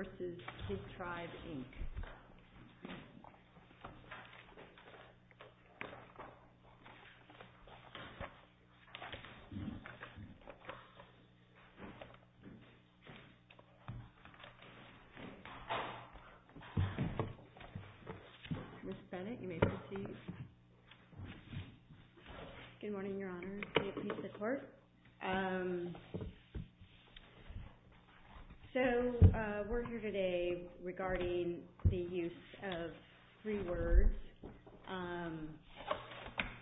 Ms. Bennett, you may proceed. Good morning, Your Honor. We're here today regarding the use of three words.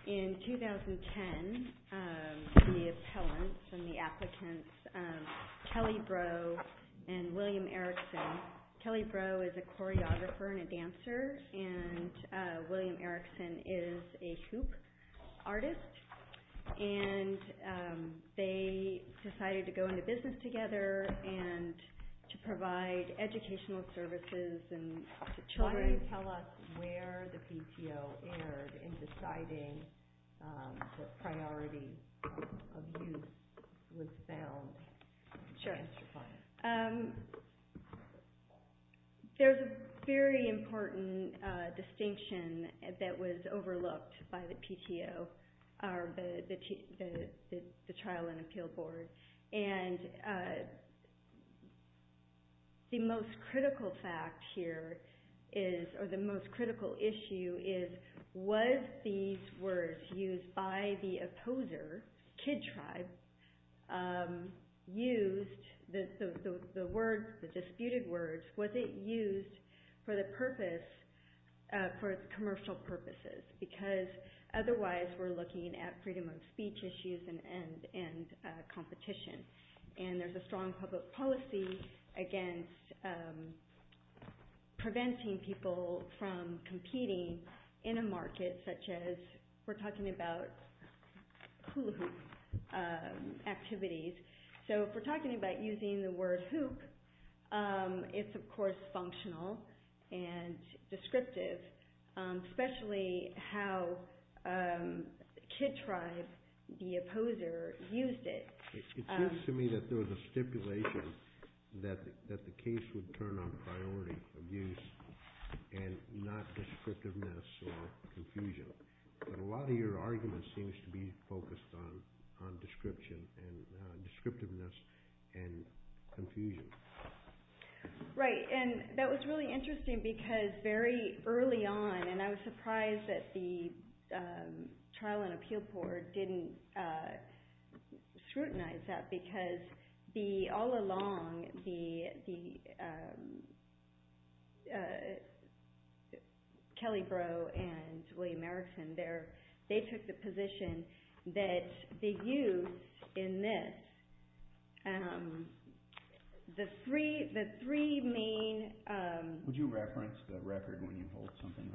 In 2010, the appellants and the applicants, Kelly Breaux and William Erickson. And they decided to go into business together and to provide educational services to children. Why don't you tell us where the PTO erred in deciding that priority of youth was found in the cancer fund? There's a very important distinction that was overlooked by the PTO, the Trial and Appeal Board. And the most critical fact here is, or the most critical issue is, was these words used by the opposer, KidTribe, used, the word, the disputed words, was it used for the purpose, for commercial purposes? Because otherwise we're looking at freedom of speech issues and competition. And there's a strong public policy against preventing people from competing in a market such as, we're talking about hula hoop activities. So if we're talking about using the word hoop, it's of course functional and descriptive, especially how KidTribe, the opposer, used it. It seems to me that there was a stipulation that the case would turn on priority of youth and not descriptiveness or confusion. But a lot of your argument seems to be focused on description and descriptiveness and confusion. Right, and that was really interesting because very early on, and I was surprised that the Trial and Appeal Board didn't scrutinize that because all along, Kelly Breaux and William Erickson, they took the position that the youth in this, the three main Would you reference the record when you hold something?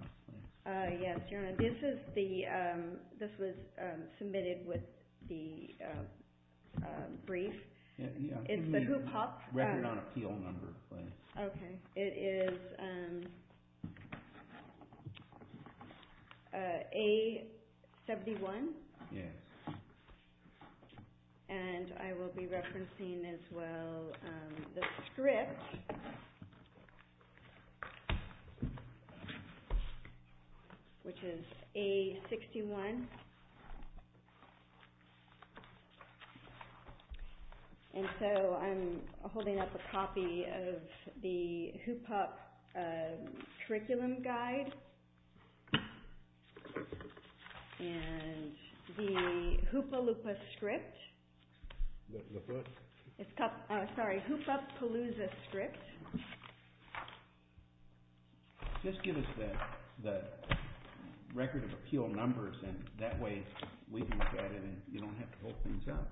Yes, this was submitted with the brief. It's the hoop hop. Record on appeal number, please. Okay, it is A71. Yes. And I will be referencing as well the script, which is A61. And so I'm holding up a copy of the hoop hop curriculum guide and the hoop-a-loop-a script. Sorry, hoop hop palooza script. Just give us the record of appeal numbers and that way we can look at it and you don't have to hold things up.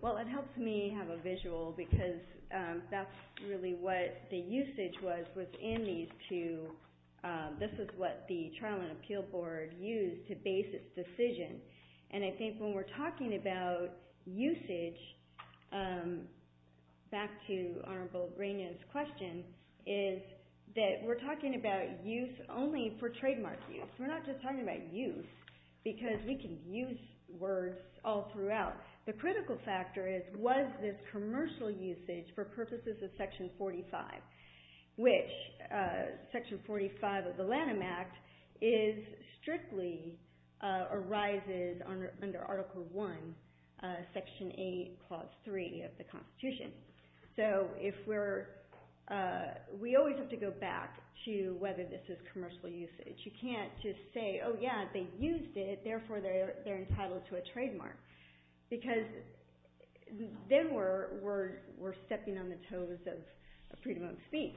Well, it helps me have a visual because that's really what the usage was within these two. This is what the Trial and Appeal Board used to base its decision. And I think when we're talking about usage, back to Honorable Reina's question, is that we're talking about use only for trademark use. We're not just talking about use because we can use words all throughout. The critical factor is was this commercial usage for purposes of Section 45, which Section 45 of the Lanham Act strictly arises under Article I, Section 8, Clause 3 of the Constitution. So we always have to go back to whether this is commercial usage. You can't just say, oh, yeah, they used it. Because then we're stepping on the toes of freedom of speech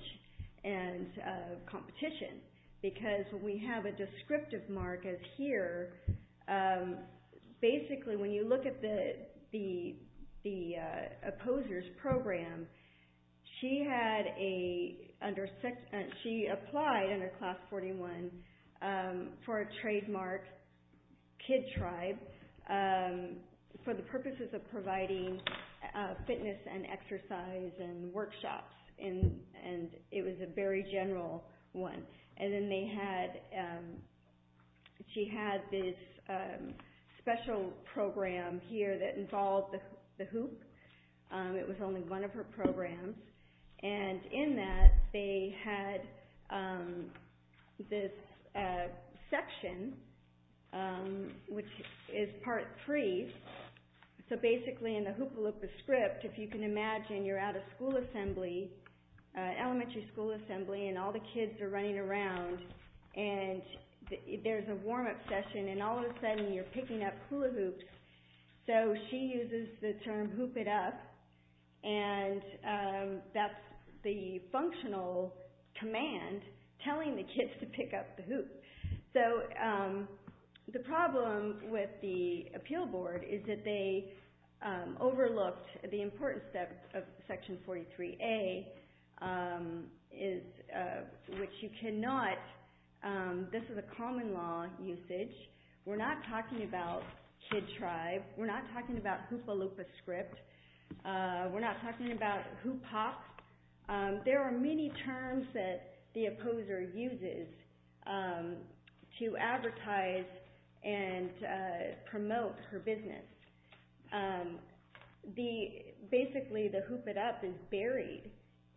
and competition because we have a descriptive mark as here. Basically, when you look at the opposers program, she applied under Clause 41 for a trademark kid tribe for the purposes of providing fitness and exercise and workshops. And it was a very general one. And then she had this special program here that involved the hoop. It was only one of her programs. And in that, they had this section, which is Part 3. So basically, in the hoop-a-loop-a-script, if you can imagine, you're at a school assembly, elementary school assembly, and all the kids are running around. And there's a warm-up session. And all of a sudden, you're picking up hula hoops. So she uses the term hoop it up. And that's the functional command telling the kids to pick up the hoop. So the problem with the appeal board is that they overlooked the importance of Section 43A, which you cannot. This is a common law usage. We're not talking about kid tribe. We're not talking about hoop-a-loop-a-script. We're not talking about hoop hop. There are many terms that the opposer uses to advertise and promote her business. Basically, the hoop-it-up is buried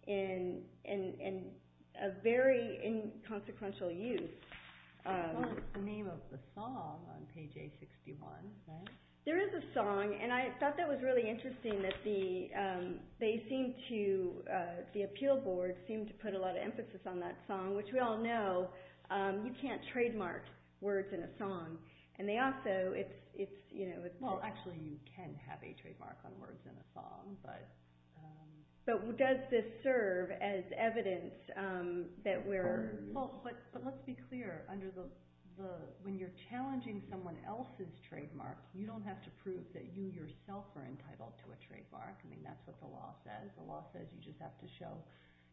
in a very inconsequential use. It's almost the name of the song on page A61, right? There is a song. And I thought that was really interesting that the appeal board seemed to put a lot of emphasis on that song, which we all know you can't trademark words in a song. And they also, it's, you know, it's- Well, actually, you can have a trademark on words in a song, but- But does this serve as evidence that we're- You yourself are entitled to a trademark. I mean, that's what the law says. The law says you just have to show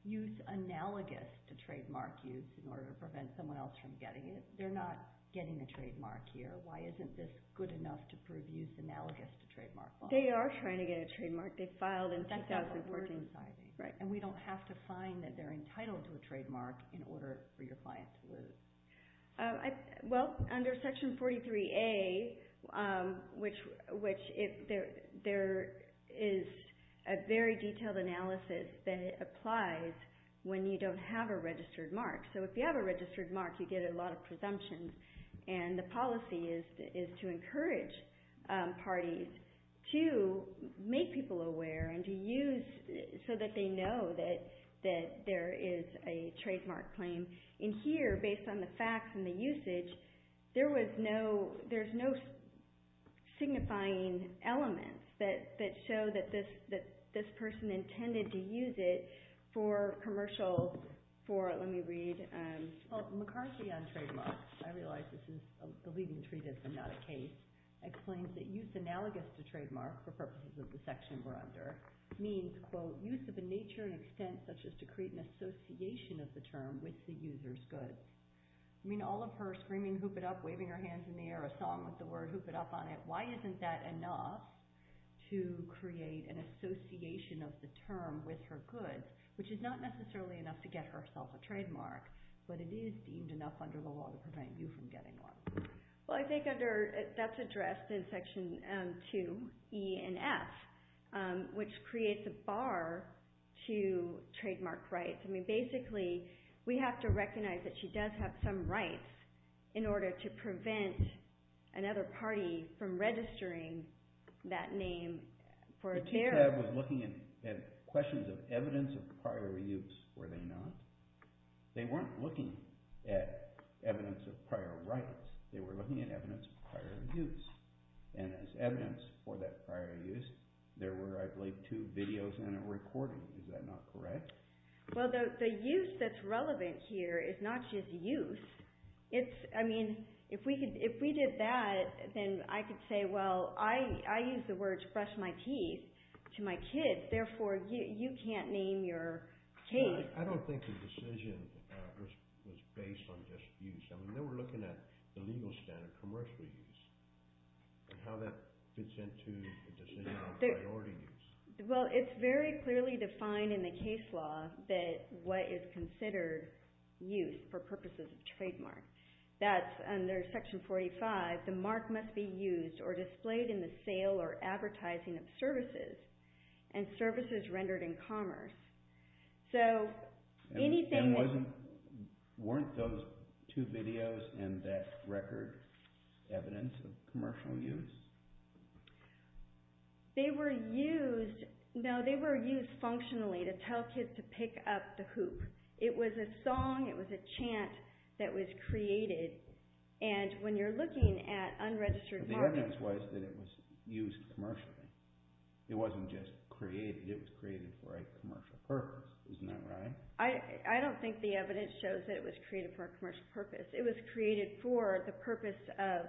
use analogous to trademark use in order to prevent someone else from getting it. They're not getting a trademark here. Why isn't this good enough to prove use analogous to trademark law? They are trying to get a trademark. They filed in 2014. And we don't have to find that they're entitled to a trademark in order for your client to lose. Well, under Section 43A, which there is a very detailed analysis that applies when you don't have a registered mark. So if you have a registered mark, you get a lot of presumptions. And the policy is to encourage parties to make people aware and to use so that they know that there is a trademark claim. And here, based on the facts and the usage, there was no- There's no signifying elements that show that this person intended to use it for commercial, for- Let me read. Well, McCarthy on trademarks, I realize this is a leading treatise and not a case, explains that use analogous to trademark for purposes of the section we're under means, quote, use of a nature and extent such as to create an association of the term with the user's goods. I mean, all of her screaming, hoop it up, waving her hands in the air, a song with the word hoop it up on it, why isn't that enough to create an association of the term with her goods, which is not necessarily enough to get herself a trademark, but it is deemed enough under the law to prevent you from getting one. Well, I think that's addressed in Section 2E and F, which creates a bar to trademark rights. I mean, basically, we have to recognize that she does have some rights in order to prevent another party from registering that name for a- So TTAB was looking at questions of evidence of prior use, were they not? They weren't looking at evidence of prior rights. They were looking at evidence of prior use, and as evidence for that prior use, there were, I believe, two videos and a recording. Is that not correct? Well, the use that's relevant here is not just use. I mean, if we did that, then I could say, well, I use the word to brush my teeth to my kids, therefore you can't name your case. I don't think the decision was based on just use. I mean, they were looking at the legal standard, commercial use, and how that fits into the decision on priority use. Well, it's very clearly defined in the case law that what is considered use for purposes of trademark. That's under Section 45. The mark must be used or displayed in the sale or advertising of services and services rendered in commerce. So anything- And weren't those two videos and that record evidence of commercial use? They were used-no, they were used functionally to tell kids to pick up the hoop. It was a song, it was a chant that was created, and when you're looking at unregistered markets- But the evidence was that it was used commercially. It wasn't just created. It was created for a commercial purpose. Isn't that right? I don't think the evidence shows that it was created for a commercial purpose. It was created for the purpose of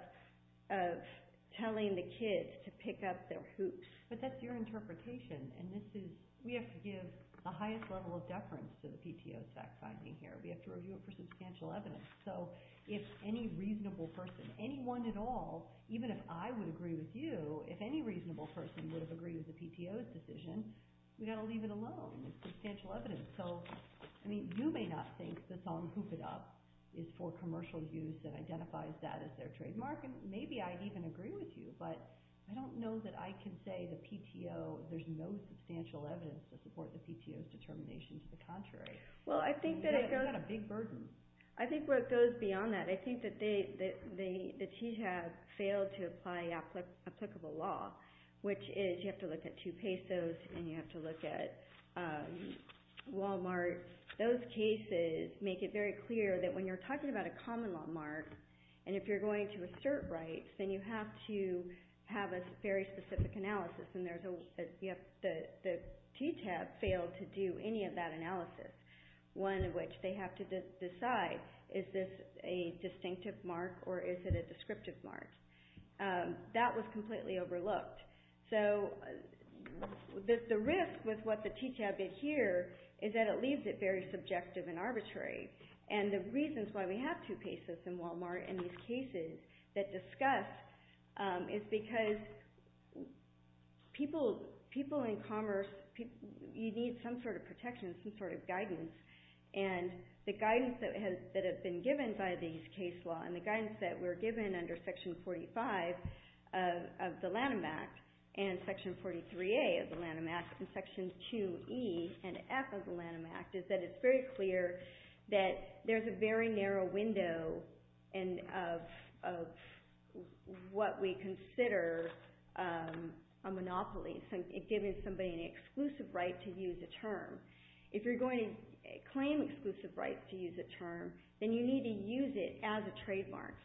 telling the kids to pick up their hoops. But that's your interpretation, and this is-we have to give the highest level of deference to the PTO's fact-finding here. We have to review it for substantial evidence. So if any reasonable person, anyone at all, even if I would agree with you, if any reasonable person would have agreed with the PTO's decision, we've got to leave it alone. It's substantial evidence. You may not think the song Hoop It Up is for commercial use and identifies that as their trademark, and maybe I'd even agree with you, but I don't know that I can say the PTO- there's no substantial evidence to support the PTO's determination to the contrary. It's got a big burden. I think where it goes beyond that, I think that they have failed to apply applicable law, which is you have to look at two pesos and you have to look at Wal-Mart. Those cases make it very clear that when you're talking about a common law mark, and if you're going to assert rights, then you have to have a very specific analysis, and the TTAP failed to do any of that analysis, one of which they have to decide, is this a distinctive mark or is it a descriptive mark? That was completely overlooked. So the risk with what the TTAP did here is that it leaves it very subjective and arbitrary, and the reasons why we have two pesos and Wal-Mart in these cases that discuss is because people in commerce, you need some sort of protection, some sort of guidance, and the guidance that has been given by these case law and the guidance that we're given under Section 45 of the Lanham Act and Section 43A of the Lanham Act and Section 2E and F of the Lanham Act is that it's very clear that there's a very narrow window of what we consider a monopoly, if you're going to claim exclusive rights to use a term, then you need to use it as a trademark,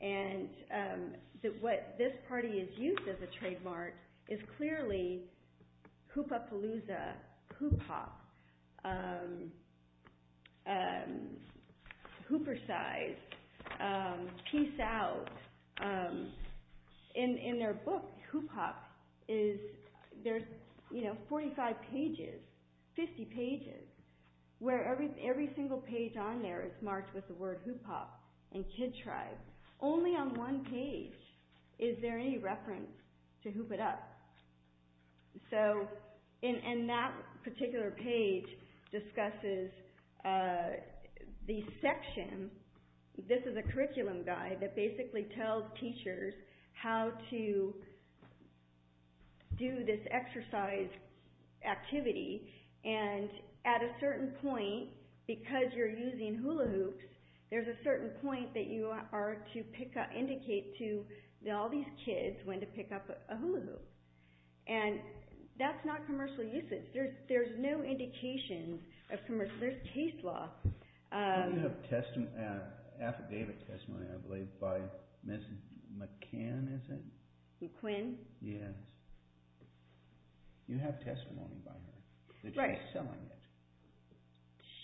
and what this party has used as a trademark is clearly hoop-a-palooza, hoop-hop, hooper-size, peace-out. In their book, hoop-hop, there's 45 pages, 50 pages, where every single page on there is marked with the word hoop-hop and kid tribe. Only on one page is there any reference to hoop-it-up. So in that particular page discusses the section, this is a curriculum guide that basically tells teachers how to do this exercise activity and at a certain point, because you're using hula hoops, there's a certain point that you are to indicate to all these kids when to pick up a hula hoop, and that's not commercial usage. There's no indication of commercial use. There's case law. You have affidavit testimony, I believe, by Ms. McCann, is it? McQuinn? Yes. You have testimony by her. Right. That you're selling it.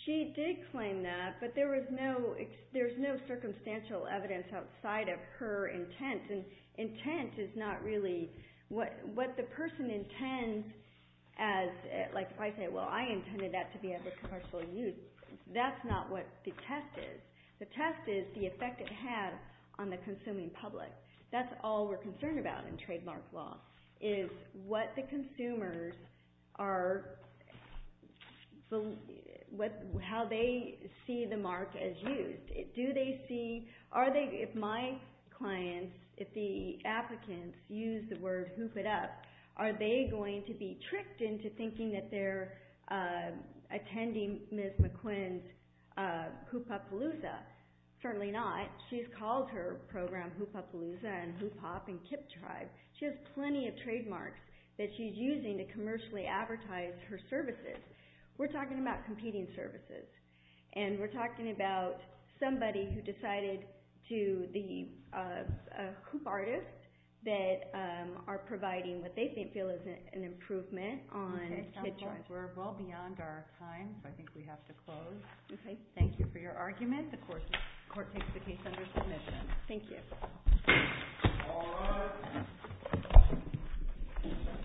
She did claim that, but there's no circumstantial evidence outside of her intent, and intent is not really what the person intends as, like if I say, well, I intended that to be as a commercial use, that's not what the test is. The test is the effect it had on the consuming public. That's all we're concerned about in trademark law is what the consumers are, how they see the mark as used. Do they see, are they, if my clients, if the applicants use the word hoop it up, are they going to be tricked into thinking that they're attending Ms. McQuinn's hoop up palooza? Certainly not. She's called her program hoop up palooza and hoop hop and KIPP tribe. She has plenty of trademarks that she's using to commercially advertise her services. We're talking about competing services, and we're talking about somebody who decided to, the hoop artist, that are providing what they feel is an improvement on KIPP tribe. Okay. Sounds like we're well beyond our time, so I think we have to close. Okay. Thank you for your argument. The court takes the case under submission. Thank you.